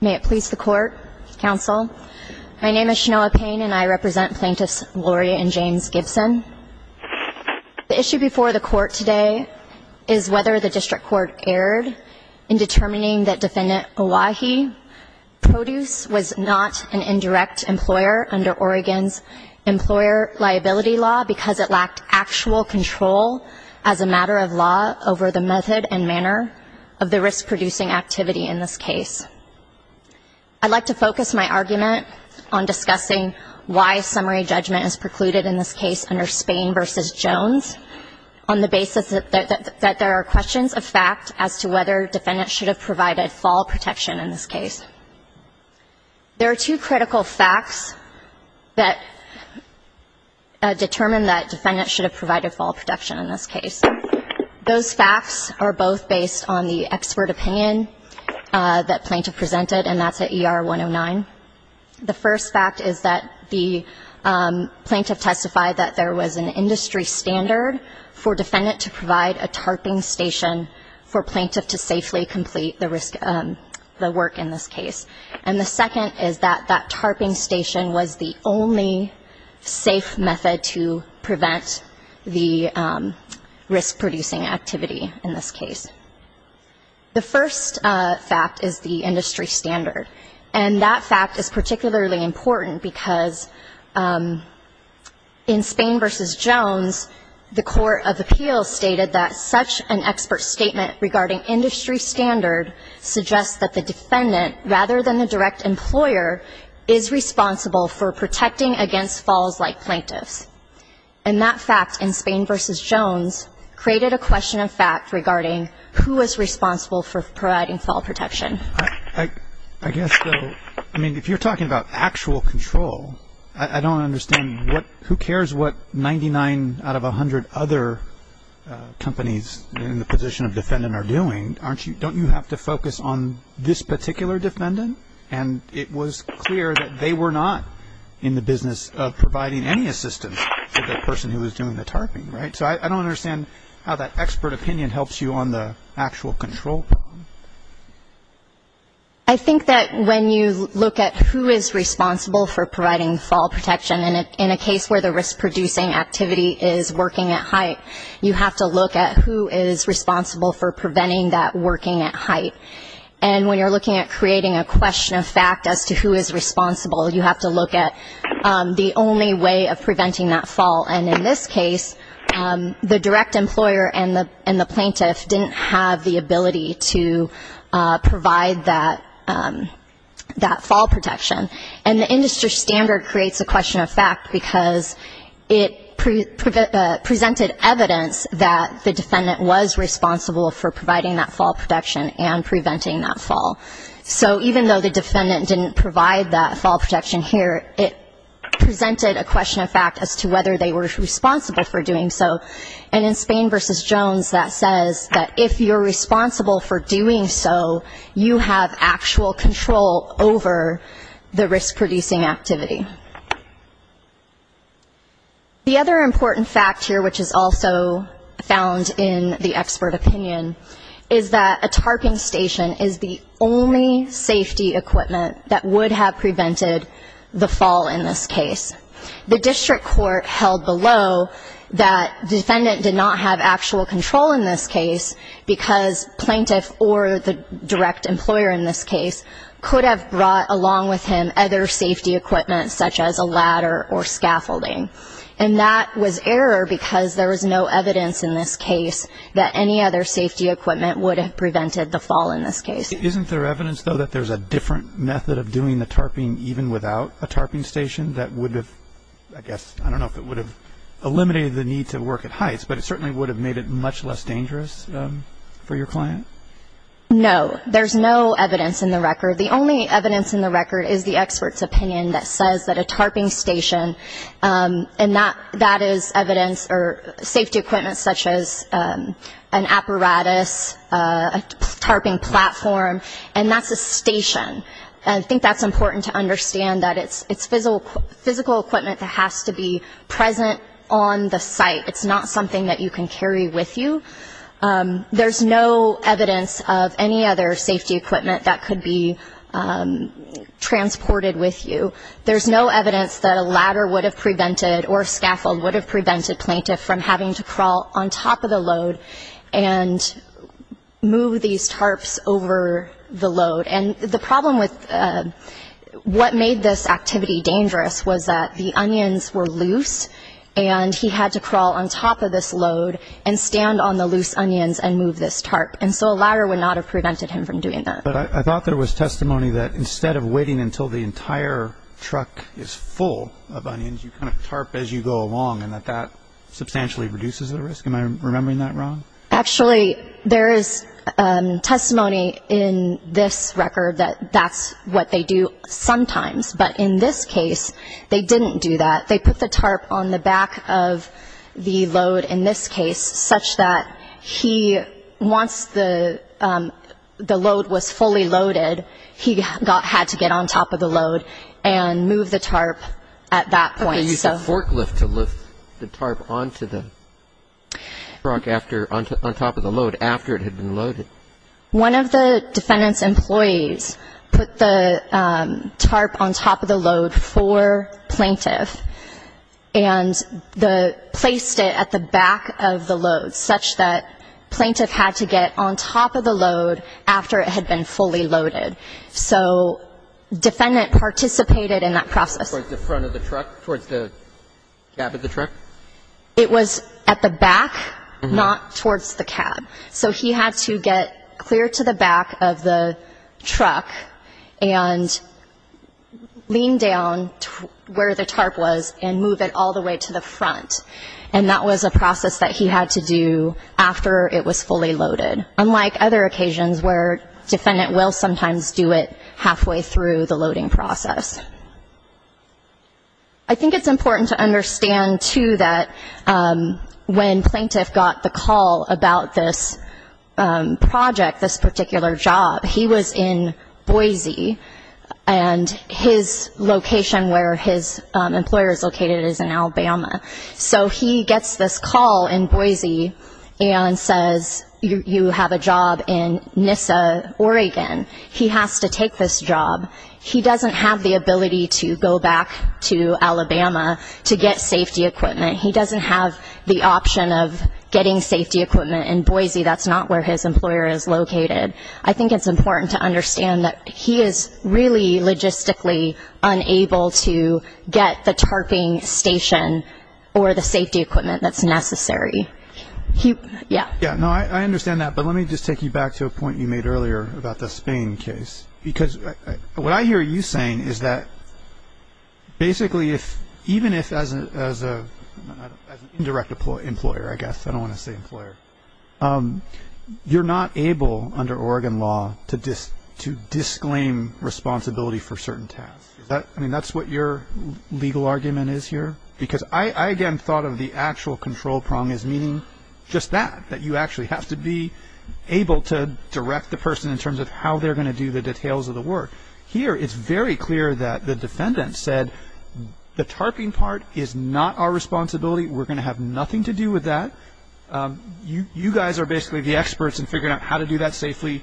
May it please the court, counsel. My name is Shanoa Payne and I represent plaintiffs Lori and James Gibson. The issue before the court today is whether the district court erred in determining that defendant Owyhee Produce was not an indirect employer under Oregon's employer liability law because it lacked actual control as a matter of law over the method and manner of the risk reducing activity in this case. I'd like to focus my argument on discussing why summary judgment is precluded in this case under Spain v. Jones on the basis that there are questions of fact as to whether defendants should have provided fall protection in this case. There are two critical facts that determine that defendants should have provided fall protection in this case. Those facts are based on the expert opinion that plaintiff presented and that's at ER 109. The first fact is that the plaintiff testified that there was an industry standard for defendant to provide a tarping station for plaintiff to safely complete the risk the work in this case and the second is that that tarping station was the only safe method to prevent the risk-producing activity in this case. The first fact is the industry standard and that fact is particularly important because in Spain v. Jones the Court of Appeals stated that such an expert statement regarding industry standard suggests that the defendant rather than the direct employer is responsible for protecting against falls like plaintiffs and that fact in Spain v. Jones created a question of fact regarding who is responsible for providing fall protection. I guess though I mean if you're talking about actual control I don't understand what who cares what 99 out of a hundred other companies in the position of defendant are doing aren't you don't you have to focus on this particular defendant and it was clear that they were not in the business of providing any assistance to the person who was doing the tarping right so I think that when you look at who is responsible for providing fall protection and in a case where the risk-producing activity is working at height you have to look at who is responsible for preventing that working at height and when you're looking at creating a question of fact as to who is responsible you have to look at the only way of preventing that fall and in this case the direct employer and the and the plaintiff didn't have the ability to provide that that fall protection and the industry standard creates a question of fact because it presented evidence that the defendant was responsible for providing that fall protection and preventing that fall so even though the defendant didn't provide that fall protection here it presented a question of fact as to whether they were responsible for doing so and in Spain versus Jones that says that if you're responsible for doing so you have actual control over the risk-producing activity the other important fact here which is also found in the expert opinion is that a tarping station is the only safety equipment that would have prevented the fall in this case the district court held below that defendant did not have actual control in this case because plaintiff or the direct employer in this case could have brought along with him other safety equipment such as a ladder or scaffolding and that was error because there was no evidence in this case that any other safety equipment would have prevented the fall in this case isn't there evidence though that there's a different method of doing the tarping even without a tarping station that would have I guess I don't know if it would have eliminated the need to work at Heights but it certainly would have made it much less dangerous for your client no there's no evidence in the record the only evidence in the record is the experts opinion that says that a tarping station and not that is evidence or safety equipment such as an apparatus a tarping platform and that's station I think that's important to understand that it's it's physical physical equipment that has to be present on the site it's not something that you can carry with you there's no evidence of any other safety equipment that could be transported with you there's no evidence that a ladder would have prevented or scaffold would have prevented plaintiff from having to crawl on top of the load and move these tarps over the load and the problem with what made this activity dangerous was that the onions were loose and he had to crawl on top of this load and stand on the loose onions and move this tarp and so a ladder would not have prevented him from doing that but I thought there was testimony that instead of waiting until the entire truck is full of onions you tarp as you go along and that that substantially reduces the risk am I remembering that wrong actually there is testimony in this record that that's what they do sometimes but in this case they didn't do that they put the tarp on the back of the load in this case such that he wants the the load was fully loaded he got had to get on top of the load and move the tarp at that point so forklift to lift the tarp onto the truck after on top of the load after it had been loaded one of the defendant's employees put the tarp on top of the load for plaintiff and the placed it at the back of the load such that plaintiff had to get on top of the load after it had been fully loaded so defendant participated in that process it was at the back not towards the cab so he had to get clear to the back of the truck and lean down to where the tarp was and move it all the way to the front and that was a process that he had to do after it was fully loaded unlike other occasions where defendant will sometimes do it halfway through the loading process I think it's important to understand to that when plaintiff got the call about this project this particular job he was in Boise and his location where his employer is located is in Alabama so he gets this call in Boise and says you have a job in Nyssa Oregon he has to take this job he doesn't have the ability to go back to Alabama to get safety equipment he doesn't have the option of getting safety equipment in Boise that's not where his employer is located I think it's important to understand that he is really logistically unable to get the tarping station or the safety equipment that's necessary he yeah yeah no I understand that but let me just take you back to a point you made earlier about the Spain case because what I hear you saying is that basically if even if as a direct employer I guess I don't want to say employer you're not able under Oregon law to just to disclaim responsibility for certain tasks that I mean that's what your legal argument is here because I again thought of the actual control prong is meaning just that that you actually have to be able to direct the person in terms of how they're gonna do the details of the work here it's very clear that the defendant said the tarping part is not our responsibility we're gonna have nothing to do with that you you guys are basically the experts and figuring out how to do that safely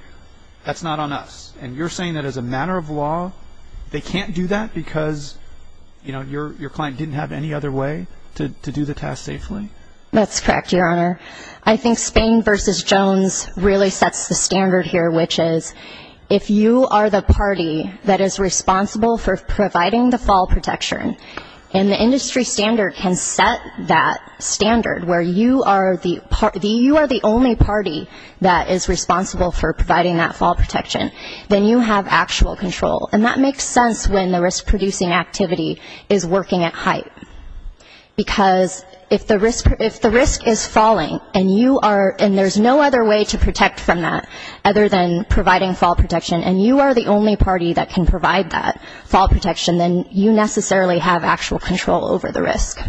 that's not on us and you're saying that as a matter of law they can't do that because you know that's correct your honor I think Spain versus Jones really sets the standard here which is if you are the party that is responsible for providing the fall protection and the industry standard can set that standard where you are the party you are the only party that is responsible for providing that fall protection then you have actual control and that makes sense when the risk activity is working at height because if the risk if the risk is falling and you are and there's no other way to protect from that other than providing fall protection and you are the only party that can provide that fall protection then you necessarily have actual control over the risk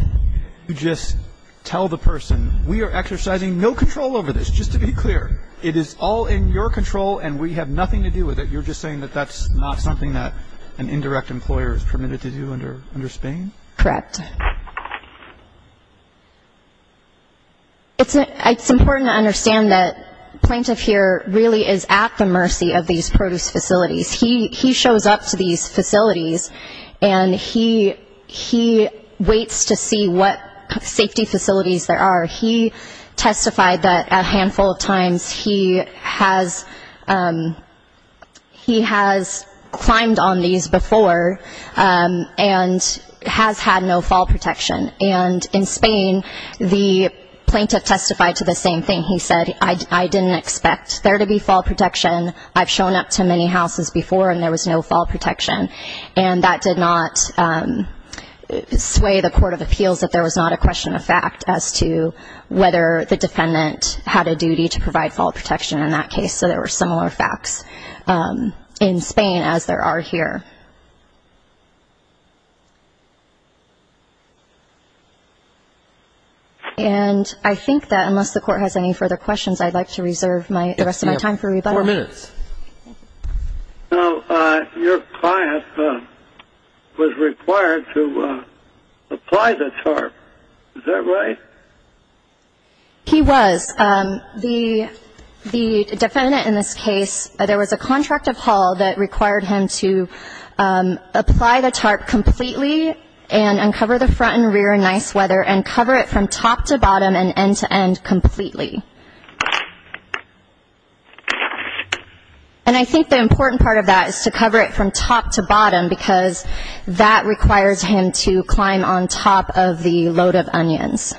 you just tell the person we are exercising no control over this just to be clear it is all in your control and we have nothing to do with it you're just saying that that's not an indirect employer is permitted to do under under Spain correct it's it's important to understand that plaintiff here really is at the mercy of these produce facilities he he shows up to these facilities and he he waits to see what safety facilities there are he testified that a handful of times he has he has climbed on these before and has had no fall protection and in Spain the plaintiff testified to the same thing he said I didn't expect there to be fall protection I've shown up to many houses before and there was no fall protection and that did not sway the Court of Appeals that there was not a question of fact as to whether the defendant had a duty to provide fall protection in that case so there were similar facts in Spain as there are here and I think that unless the court has any further questions I'd like to reserve my time for rebuttal. Your client was required to apply the tarp, is that right? He was the defendant in this case there was a contract of Hall that required him to apply the tarp completely and uncover the front and rear nice weather and cover it from top to bottom and end to end completely and I think the important part of that is to cover it from top to bottom because that requires him to climb on top of the load of onions.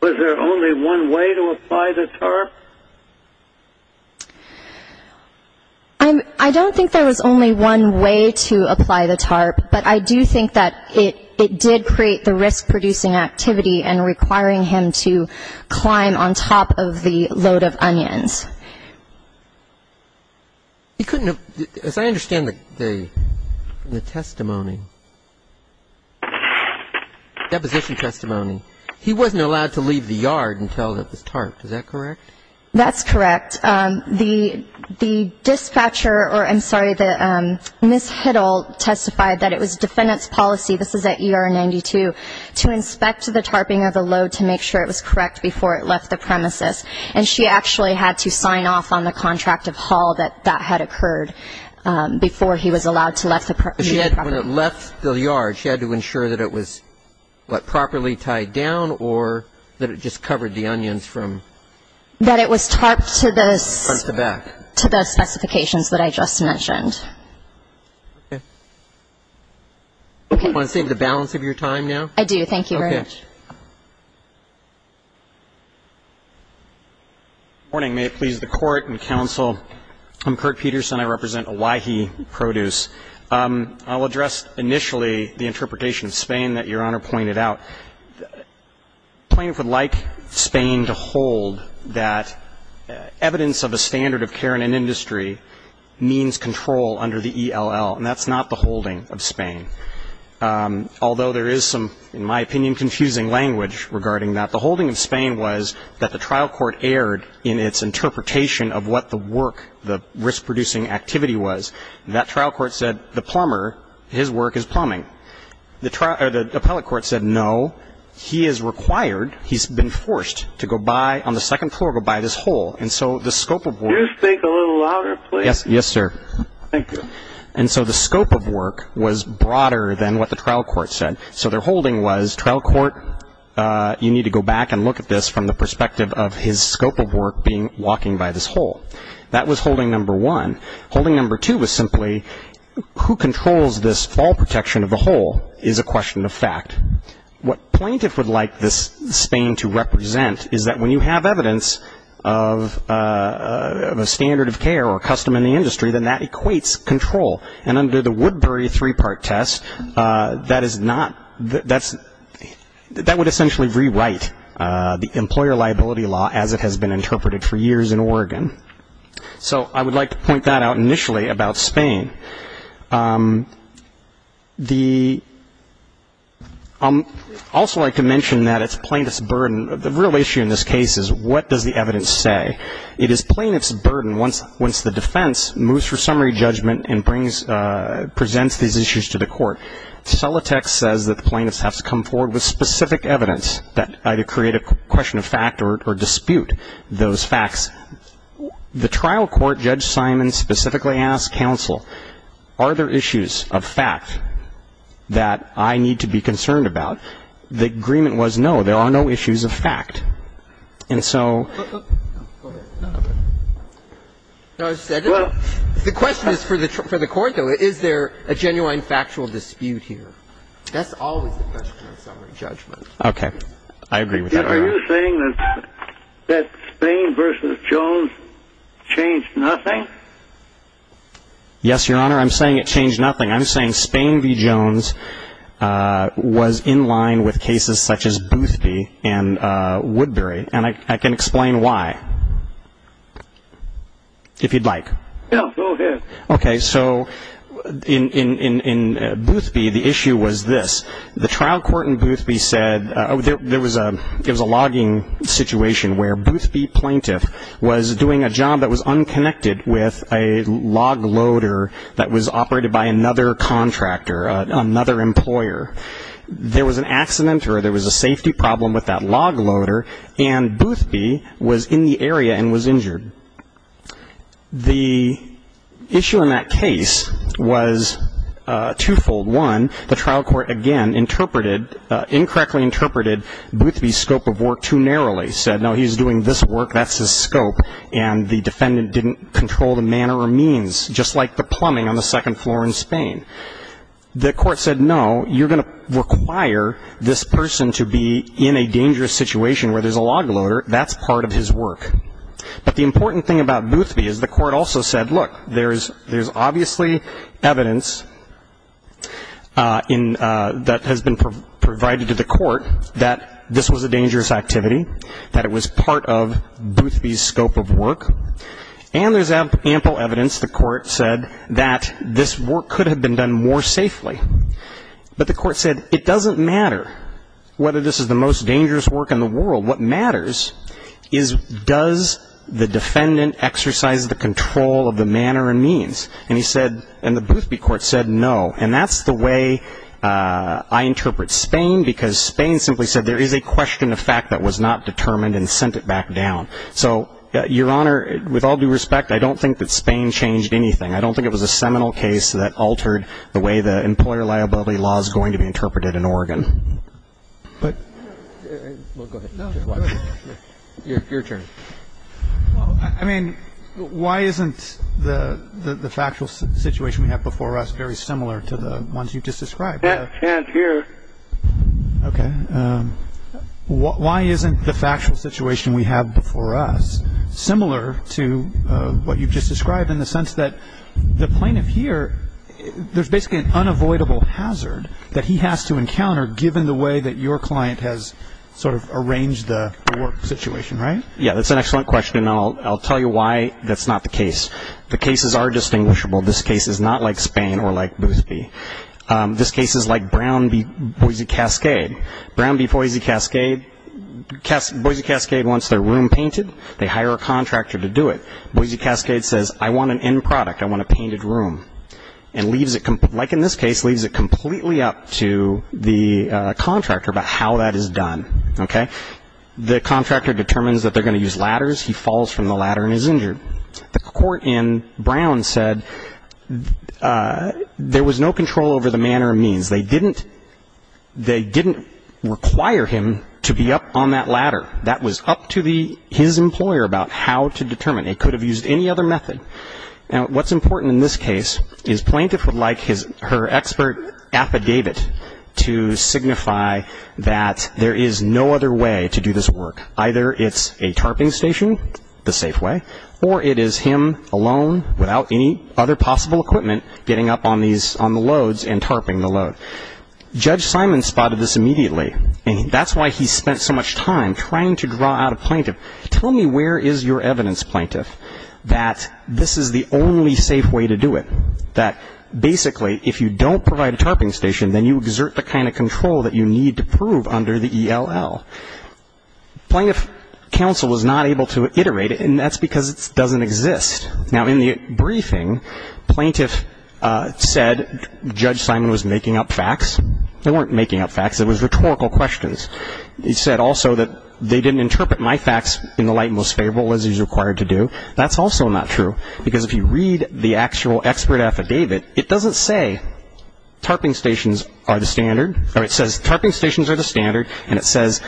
Was there only one way to apply the tarp? I don't think there was only one way to apply the tarp but I do think that it did create the risk-producing activity and requiring him to climb on top of the load of onions. He couldn't have, as I understand the testimony, deposition testimony, he wasn't allowed to leave the yard until the tarp, is that correct? That's correct. The Ms. Hiddle testified that it was defendant's policy, this is at ER 92, to inspect the tarping of the load to make sure it was correct before it left the premises and she actually had to sign off on the contract of Hall that that had occurred before he was allowed to leave the property. When it left the yard she had to ensure that it was properly tied down or that it just covered the onions from? That it was to the specifications that I just mentioned. Okay. Do you want to save the balance of your time now? I do, thank you very much. Okay. Good morning, may it please the Court and counsel. I'm Kurt Peterson, I represent Owyhee Produce. I'll address initially the interpretation of Spain that Your Honor pointed out. The plaintiff would like Spain to hold that evidence of a standard of care in an industry means control under the ELL and that's not the holding of Spain. Although there is some, in my opinion, confusing language regarding that. The holding of Spain was that the trial court erred in its interpretation of what the work, the risk-producing activity was. That trial court said the plumber, his work is plumbing. The appellate court said no, he is required, he's been forced to go by on the second floor, go by this hole. And so the scope of work. Can you speak a little louder, please? Yes, sir. Thank you. And so the scope of work was broader than what the trial court said. So their holding was trial court, you need to go back and look at this from the perspective of his scope of work being walking by this hole. That was holding number one. Holding number two was simply who controls this fall protection of the is a question of fact. What plaintiff would like this Spain to represent is that when you have evidence of a standard of care or custom in the industry, then that equates control. And under the Woodbury three-part test, that is not, that's, that would essentially rewrite the employer liability law as it has been interpreted for years in Oregon. So I would like to point that out initially about Spain. The also I can mention that it's plaintiff's burden. The real issue in this case is what does the evidence say? It is plaintiff's burden once, once the defense moves for summary judgment and brings, presents these issues to the court. Celotex says that the plaintiffs have to come forward with specific evidence that either create a question of fact or dispute those facts. The trial court, Judge that I need to be concerned about, the agreement was no, there are no issues of fact. And so. The question is for the, for the court though, is there a genuine factual dispute here? That's always the question of summary judgment. Okay. I agree with that. Are you saying that, that Spain versus Jones changed nothing? Yes, Your Honor. I'm saying it changed nothing. I'm saying Spain v. Jones was in line with cases such as Boothby and Woodbury. And I can explain why. If you'd like. Yeah, go ahead. Okay. So in, in, in Boothby, the issue was this. The trial court in Boothby said, there was a, it was a logging situation where Boothby plaintiff was doing a job that was unconnected with a log loader that was operated by another contractor, another employer. There was an accident or there was a safety problem with that log loader. And Boothby was in the area and was injured. The issue in that case was twofold. One, the trial court again interpreted, incorrectly interpreted Boothby's scope of work too narrowly. Said, no, he's doing this work, that's his scope. And the defendant didn't control the manner or means, just like the plumbing on the second floor in Spain. The court said, no, you're going to require this person to be in a dangerous situation where there's a log loader. That's part of his work. But the important thing about Boothby is the court also said, look, there's, there's obviously evidence in, that has been provided to the court that this was a dangerous activity, that it was part of Boothby's scope of work. And there's ample evidence, the court said, that this work could have been done more safely. But the court said, it doesn't matter whether this is the most dangerous work in the world. What matters is, does the defendant exercise the control of the manner and means? And he said, and the interpreted Spain, because Spain simply said, there is a question of fact that was not determined and sent it back down. So, Your Honor, with all due respect, I don't think that Spain changed anything. I don't think it was a seminal case that altered the way the employer liability law is going to be interpreted in Oregon. But, I, no, go ahead. Your, your turn. I mean, why isn't the, the factual situation we have before us very similar to the ones you just described? That stands here. Okay. Why isn't the factual situation we have before us similar to what you've just described in the sense that the plaintiff here, there's basically an unavoidable hazard that he has to encounter given the way that your client has sort of arranged the work situation, right? Yeah, that's an excellent question. I'll, I'll tell you why that's not the case. The cases are distinguishable. This case is not like Spain or like Boothby. This case is like Brown v. Boise Cascade. Brown v. Boise Cascade, Boise Cascade wants their room painted. They hire a contractor to do it. Boise Cascade says, I want an end product. I want a painted room. And leaves it, like in this case, leaves it completely up to the contractor about how that is done. Okay? The contractor determines that they're going to use ladders. He falls from the ladder and is injured. And the court in Brown said there was no control over the manner and means. They didn't, they didn't require him to be up on that ladder. That was up to the, his employer about how to determine. It could have used any other method. Now, what's important in this case is plaintiff would like his, her expert affidavit to signify that there is no other way to do this work. Either it's a tarping station, the safe way, or it is him alone, without any other possible equipment, getting up on these, on the loads and tarping the load. Judge Simon spotted this immediately. And that's why he spent so much time trying to draw out a plaintiff. Tell me where is your evidence, plaintiff, that this is the only safe way to do it? That basically, if you don't provide a tarping station, then you Plaintiff counsel was not able to iterate it, and that's because it doesn't exist. Now, in the briefing, plaintiff said Judge Simon was making up facts. They weren't making up facts. It was rhetorical questions. He said also that they didn't interpret my facts in the light most favorable as he's required to do. That's also not true. Because if you read the actual expert affidavit, it doesn't say tarping stations are the standard. It says tarping stations are the standard, and it says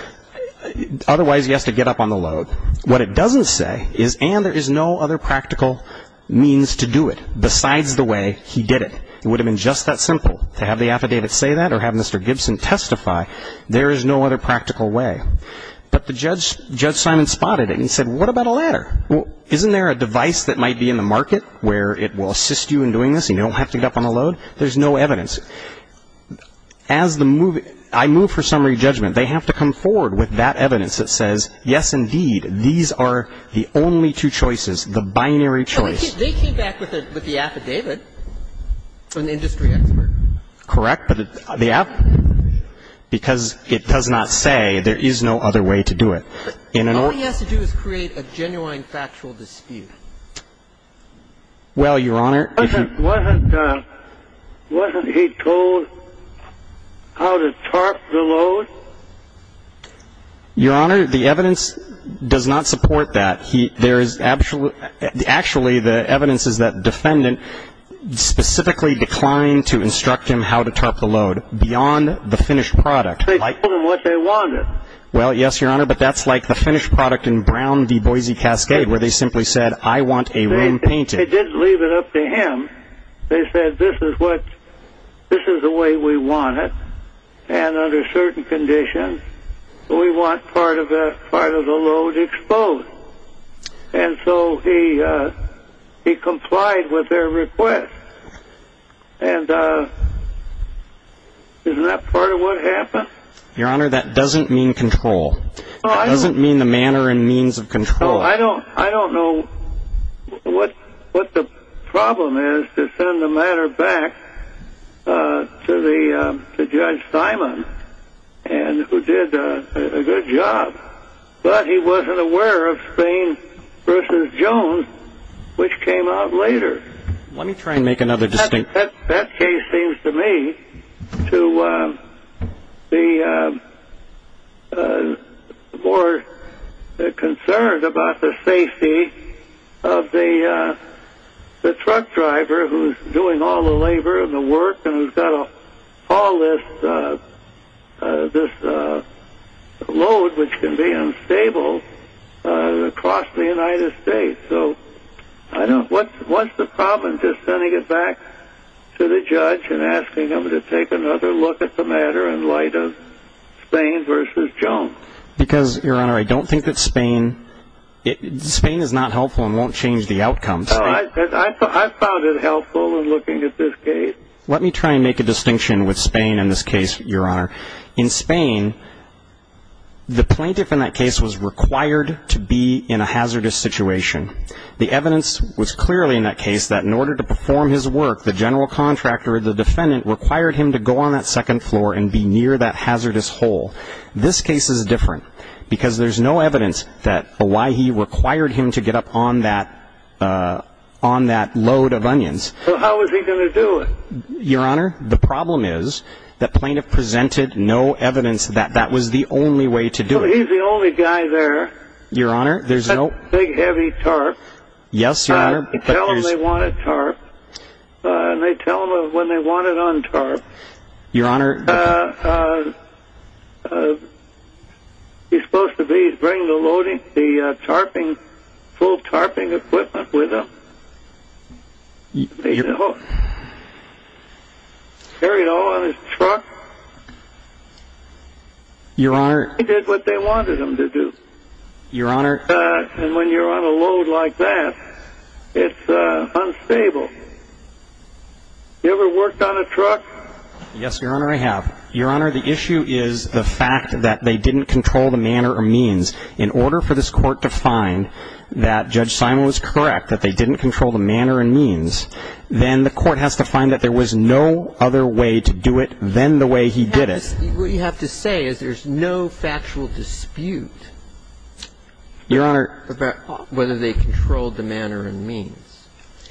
otherwise he has to get up on the load. What it doesn't say is, and there is no other practical means to do it besides the way he did it. It would have been just that simple to have the affidavit say that or have Mr. Gibson testify. There is no other practical way. But the judge, Judge Simon spotted it and he said, what about a ladder? Isn't there a device that might be in the market where it will assist you in doing this and you don't have to get up on the load? There's no evidence. As the move ‑‑ I move for summary judgment. They have to come forward with that evidence that says, yes, indeed, these are the only two choices, the binary choice. They came back with the affidavit from the industry expert. Correct. But the affidavit ‑‑ because it does not say there is no other way to do it. All he has to do is create a genuine factual dispute. Well, Your Honor, if you ‑‑ Wasn't ‑‑ wasn't he told how to tarp the load? Your Honor, the evidence does not support that. There is ‑‑ actually, the evidence is that defendant specifically declined to instruct him how to tarp the load beyond the finished product. They told him what they wanted. Well, yes, Your Honor, but that's like the finished product in Brown v. Boise Cascade where they simply said, I want a room painted. They didn't leave it up to him. They said, this is what ‑‑ this is the way we want it. And under certain conditions, we want part of the load exposed. And so he complied with their request. And isn't that part of what happened? Your Honor, that doesn't mean control. It doesn't mean the manner and means of control. I don't know what the problem is to send the matter back to the ‑‑ to Judge Simon, and who did a good job. But he wasn't aware of Spain v. Jones, which came out later. Let me try and make another distinction. That case seems to me to be more concerned about the fact that the judge was not aware of the safety of the truck driver who's doing all the labor and the work and who's got all this load, which can be unstable, across the United States. So I don't ‑‑ what's the problem to sending it back to the judge and asking him to take another look at the matter in light of Spain v. Jones? Because, Your Honor, I don't think that Spain ‑‑ Spain is not helpful and won't change the outcome. No, I found it helpful in looking at this case. Let me try and make a distinction with Spain in this case, Your Honor. In Spain, the plaintiff in that case was required to be in a hazardous situation. The evidence was clearly in that case that in order to perform his work, the general contractor or the defendant required him to go on that second floor and be near that hazardous hole. This case is different because there's no evidence that why he required him to get up on that load of onions. So how was he going to do it? Your Honor, the problem is that plaintiff presented no evidence that that was the only way to do it. So he's the only guy there. Your Honor, there's no ‑‑ Big, heavy tarp. Yes, Your Honor, but there's ‑‑ Tell them they want a tarp, and they tell them when they want it on tarp. Your Honor, the problem is that when you're on a load like that, it's unstable. He's supposed to be bringing the loading, the tarping, full tarping equipment with him. He carried it all in his truck. He did what they wanted him to do. And when you're on a load like that, it's unstable. You ever worked on a truck? Yes, Your Honor, I have. Your Honor, the issue is the fact that they didn't control the manner or means. In order for this Court to find that Judge Simon was correct, that they didn't control the manner and means, then the Court has to find that there was no other way to do it than the way he did it. What you have to say is there's no factual dispute about whether they controlled the manner and means.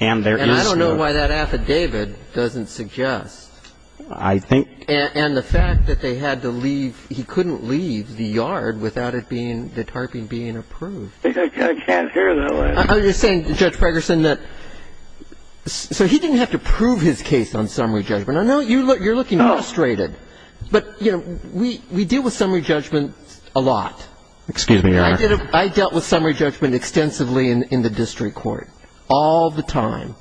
And there is no ‑‑ I think ‑‑ And the fact that they had to leave, he couldn't leave the yard without it being, the tarping being approved. I can't hear, though. Are you saying, Judge Fragerson, that so he didn't have to prove his case on summary judgment? No, you're looking frustrated. But, you know, we deal with summary judgment a lot. Excuse me, Your Honor. I dealt with summary judgment extensively in the district court all the time.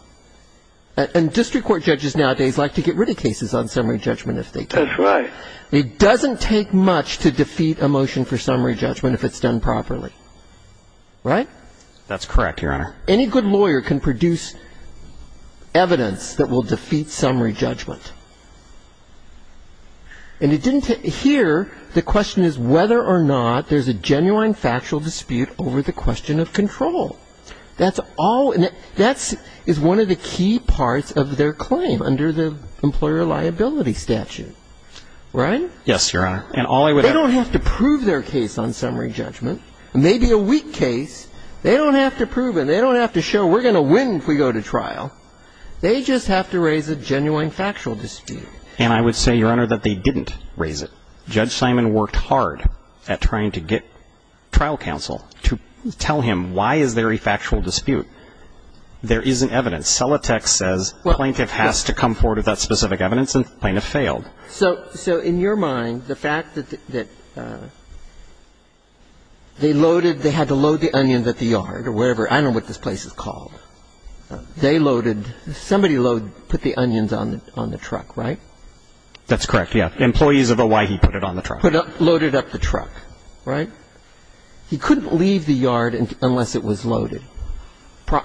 And district court judges nowadays like to get rid of cases on summary judgment if they can. That's right. It doesn't take much to defeat a motion for summary judgment if it's done properly. Right? That's correct, Your Honor. Any good lawyer can produce evidence that will defeat summary judgment. And it didn't take ‑‑ here, the question is whether or not there's a genuine factual dispute over the question of control. That's all ‑‑ that is one of the key parts of their claim under the employer liability statute. Right? Yes, Your Honor. And all I would add ‑‑ They don't have to prove their case on summary judgment, maybe a weak case. They don't have to prove it. They don't have to show we're going to win if we go to trial. They just have to raise a genuine factual dispute. And I would say, Your Honor, that they didn't raise it. Judge Simon worked hard at trying to get trial counsel to tell him why is there a factual dispute. There isn't evidence. Celotex says plaintiff has to come forward with that specific evidence, and plaintiff failed. So in your mind, the fact that they loaded ‑‑ they had to load the onions at the yard or whatever. I don't know what this place is called. They loaded ‑‑ somebody put the onions on the truck, right? That's correct, yes. And put it on the truck. Loaded up the truck, right? He couldn't leave the yard unless it was loaded.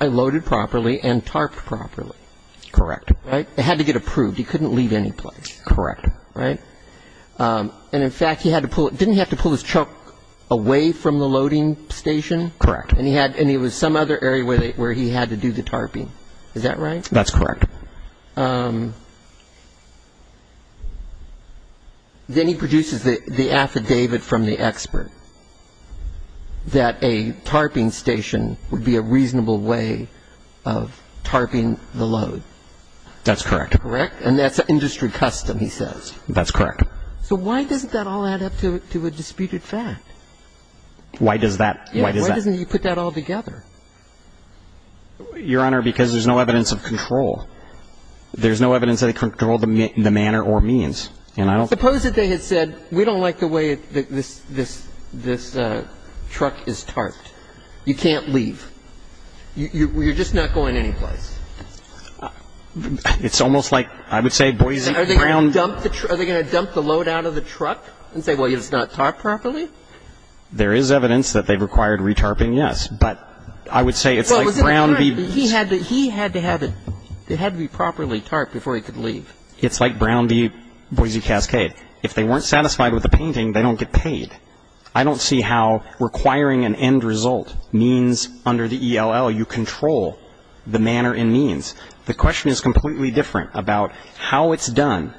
Loaded properly and tarped properly. Correct. Right? It had to get approved. He couldn't leave any place. Correct. Right? And, in fact, he had to pull ‑‑ didn't he have to pull his truck away from the loading station? Correct. And he had ‑‑ and it was some other area where he had to do the tarping. Is that right? That's correct. Then he produces the affidavit from the expert that a tarping station would be a reasonable way of tarping the load. That's correct. Correct? And that's industry custom, he says. That's correct. So why doesn't that all add up to a disputed fact? Why does that? Why does that? Why doesn't he put that all together? Your Honor, because there's no evidence of control. There's no evidence that he controlled the manner or means. And I don't ‑‑ Suppose that they had said, we don't like the way this truck is tarped. You can't leave. You're just not going any place. It's almost like, I would say, Boise, Brown ‑‑ Are they going to dump the load out of the truck and say, well, it's not tarped properly? There is evidence that they required re‑tarping, yes. But I would say it's like Brown v. He had to have it ‑‑ it had to be properly tarped before he could leave. It's like Brown v. Boise Cascade. If they weren't satisfied with the painting, they don't get paid. I don't see how requiring an end result means under the ELL you control the manner and means. The question is completely different about how it's done,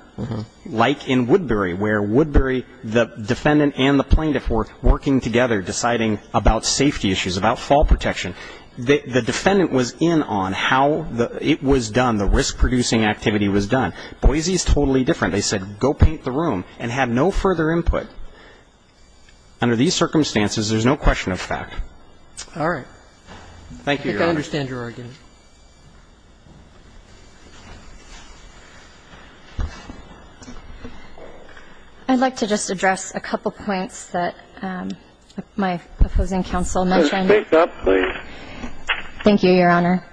like in Woodbury, where Woodbury, the defendant and the plaintiff were working together, deciding about safety issues, about fall protection. The defendant was in on how it was done, the risk‑producing activity was done. Boise is totally different. They said, go paint the room and had no further input. Under these circumstances, there's no question of fact. All right. Thank you, Your Honor. I think I understand your argument. I'd like to just address a couple points that my opposing counsel mentioned. Please. Thank you, Your Honor.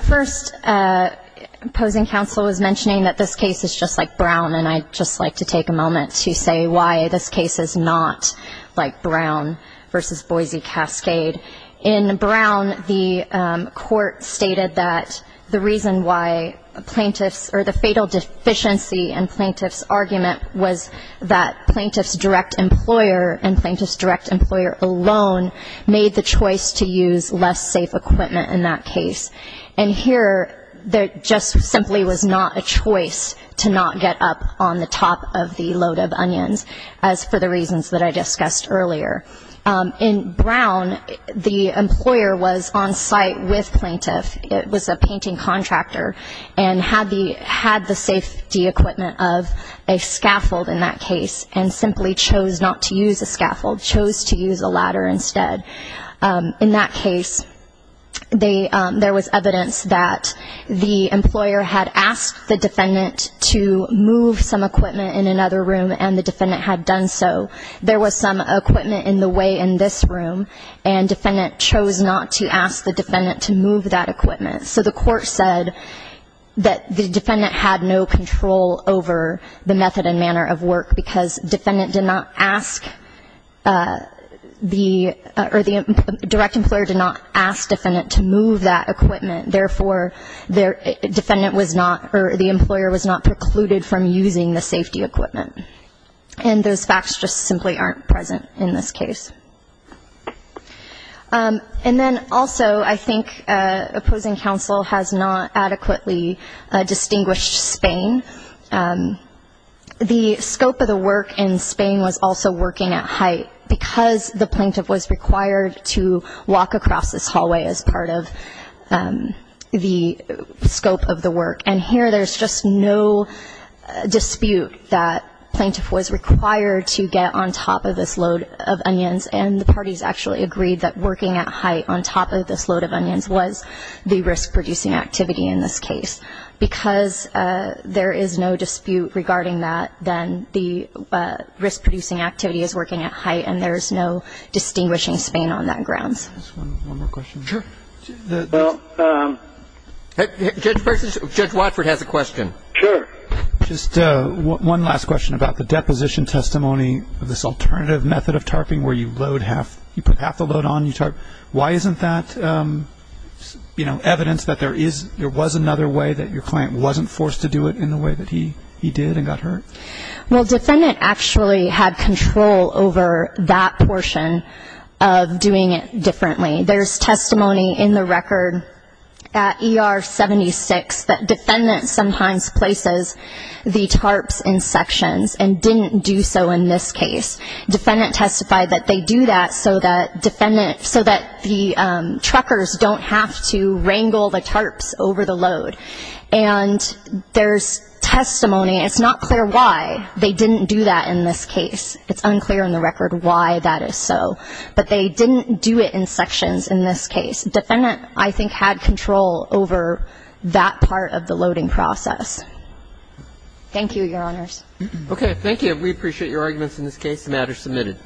First, opposing counsel was mentioning that this case is just like Brown, and I'd just like to take a moment to say why this case is not like Brown v. Boise Cascade. In Brown, the court stated that the reason why plaintiffs or the fatal deficiency in plaintiff's argument was that plaintiff's direct employer and plaintiff's direct employer alone made the choice to use less safe equipment in that case. And here, there just simply was not a choice to not get up on the top of the load of onions, as for the reasons that I discussed earlier. In Brown, the employer was on site with plaintiff. It was a painting contractor and had the safety equipment of a scaffold in that case and simply chose not to use a scaffold, chose to use a ladder instead. In that case, there was evidence that the employer had asked the defendant to move some equipment in another room, and the defendant had done so. There was some equipment in the way in this room, and defendant chose not to ask the defendant to move that equipment. So the court said that the defendant had no control over the method and manner of work because defendant did not ask the, or the direct employer did not ask defendant to move that equipment. Therefore, defendant was not, or the employer was not precluded from using the safety equipment. And those facts just simply aren't present in this case. And then also, I think opposing counsel has not adequately distinguished Spain. The scope of the work in Spain was also working at height because the plaintiff was required to walk across this hallway as part of the scope of the work. And here there's just no dispute that plaintiff was required to get on top of this load of onions. And the parties actually agreed that working at height on top of this load of onions was the risk-producing activity in this case because there is no dispute regarding that, then the risk-producing activity is working at height and there's no distinguishing Spain on that grounds. Just one more question. Sure. Well, Judge Watford has a question. Sure. Just one last question about the deposition testimony of this alternative method of tarping where you load half, you put half the load on, you tarp. Why isn't that evidence that there was another way that your client wasn't forced to do it in the way that he did and got hurt? Well, defendant actually had control over that portion of doing it differently. There's testimony in the record at ER 76 that defendant sometimes places the tarps in sections and didn't do so in this case. Defendant testified that they do that so that the truckers don't have to wrangle the tarps over the load. And there's testimony. It's not clear why they didn't do that in this case. It's unclear in the record why that is so. But they didn't do it in sections in this case. Defendant, I think, had control over that part of the loading process. Thank you, Your Honors. Okay. We appreciate your arguments in this case. The matter is submitted.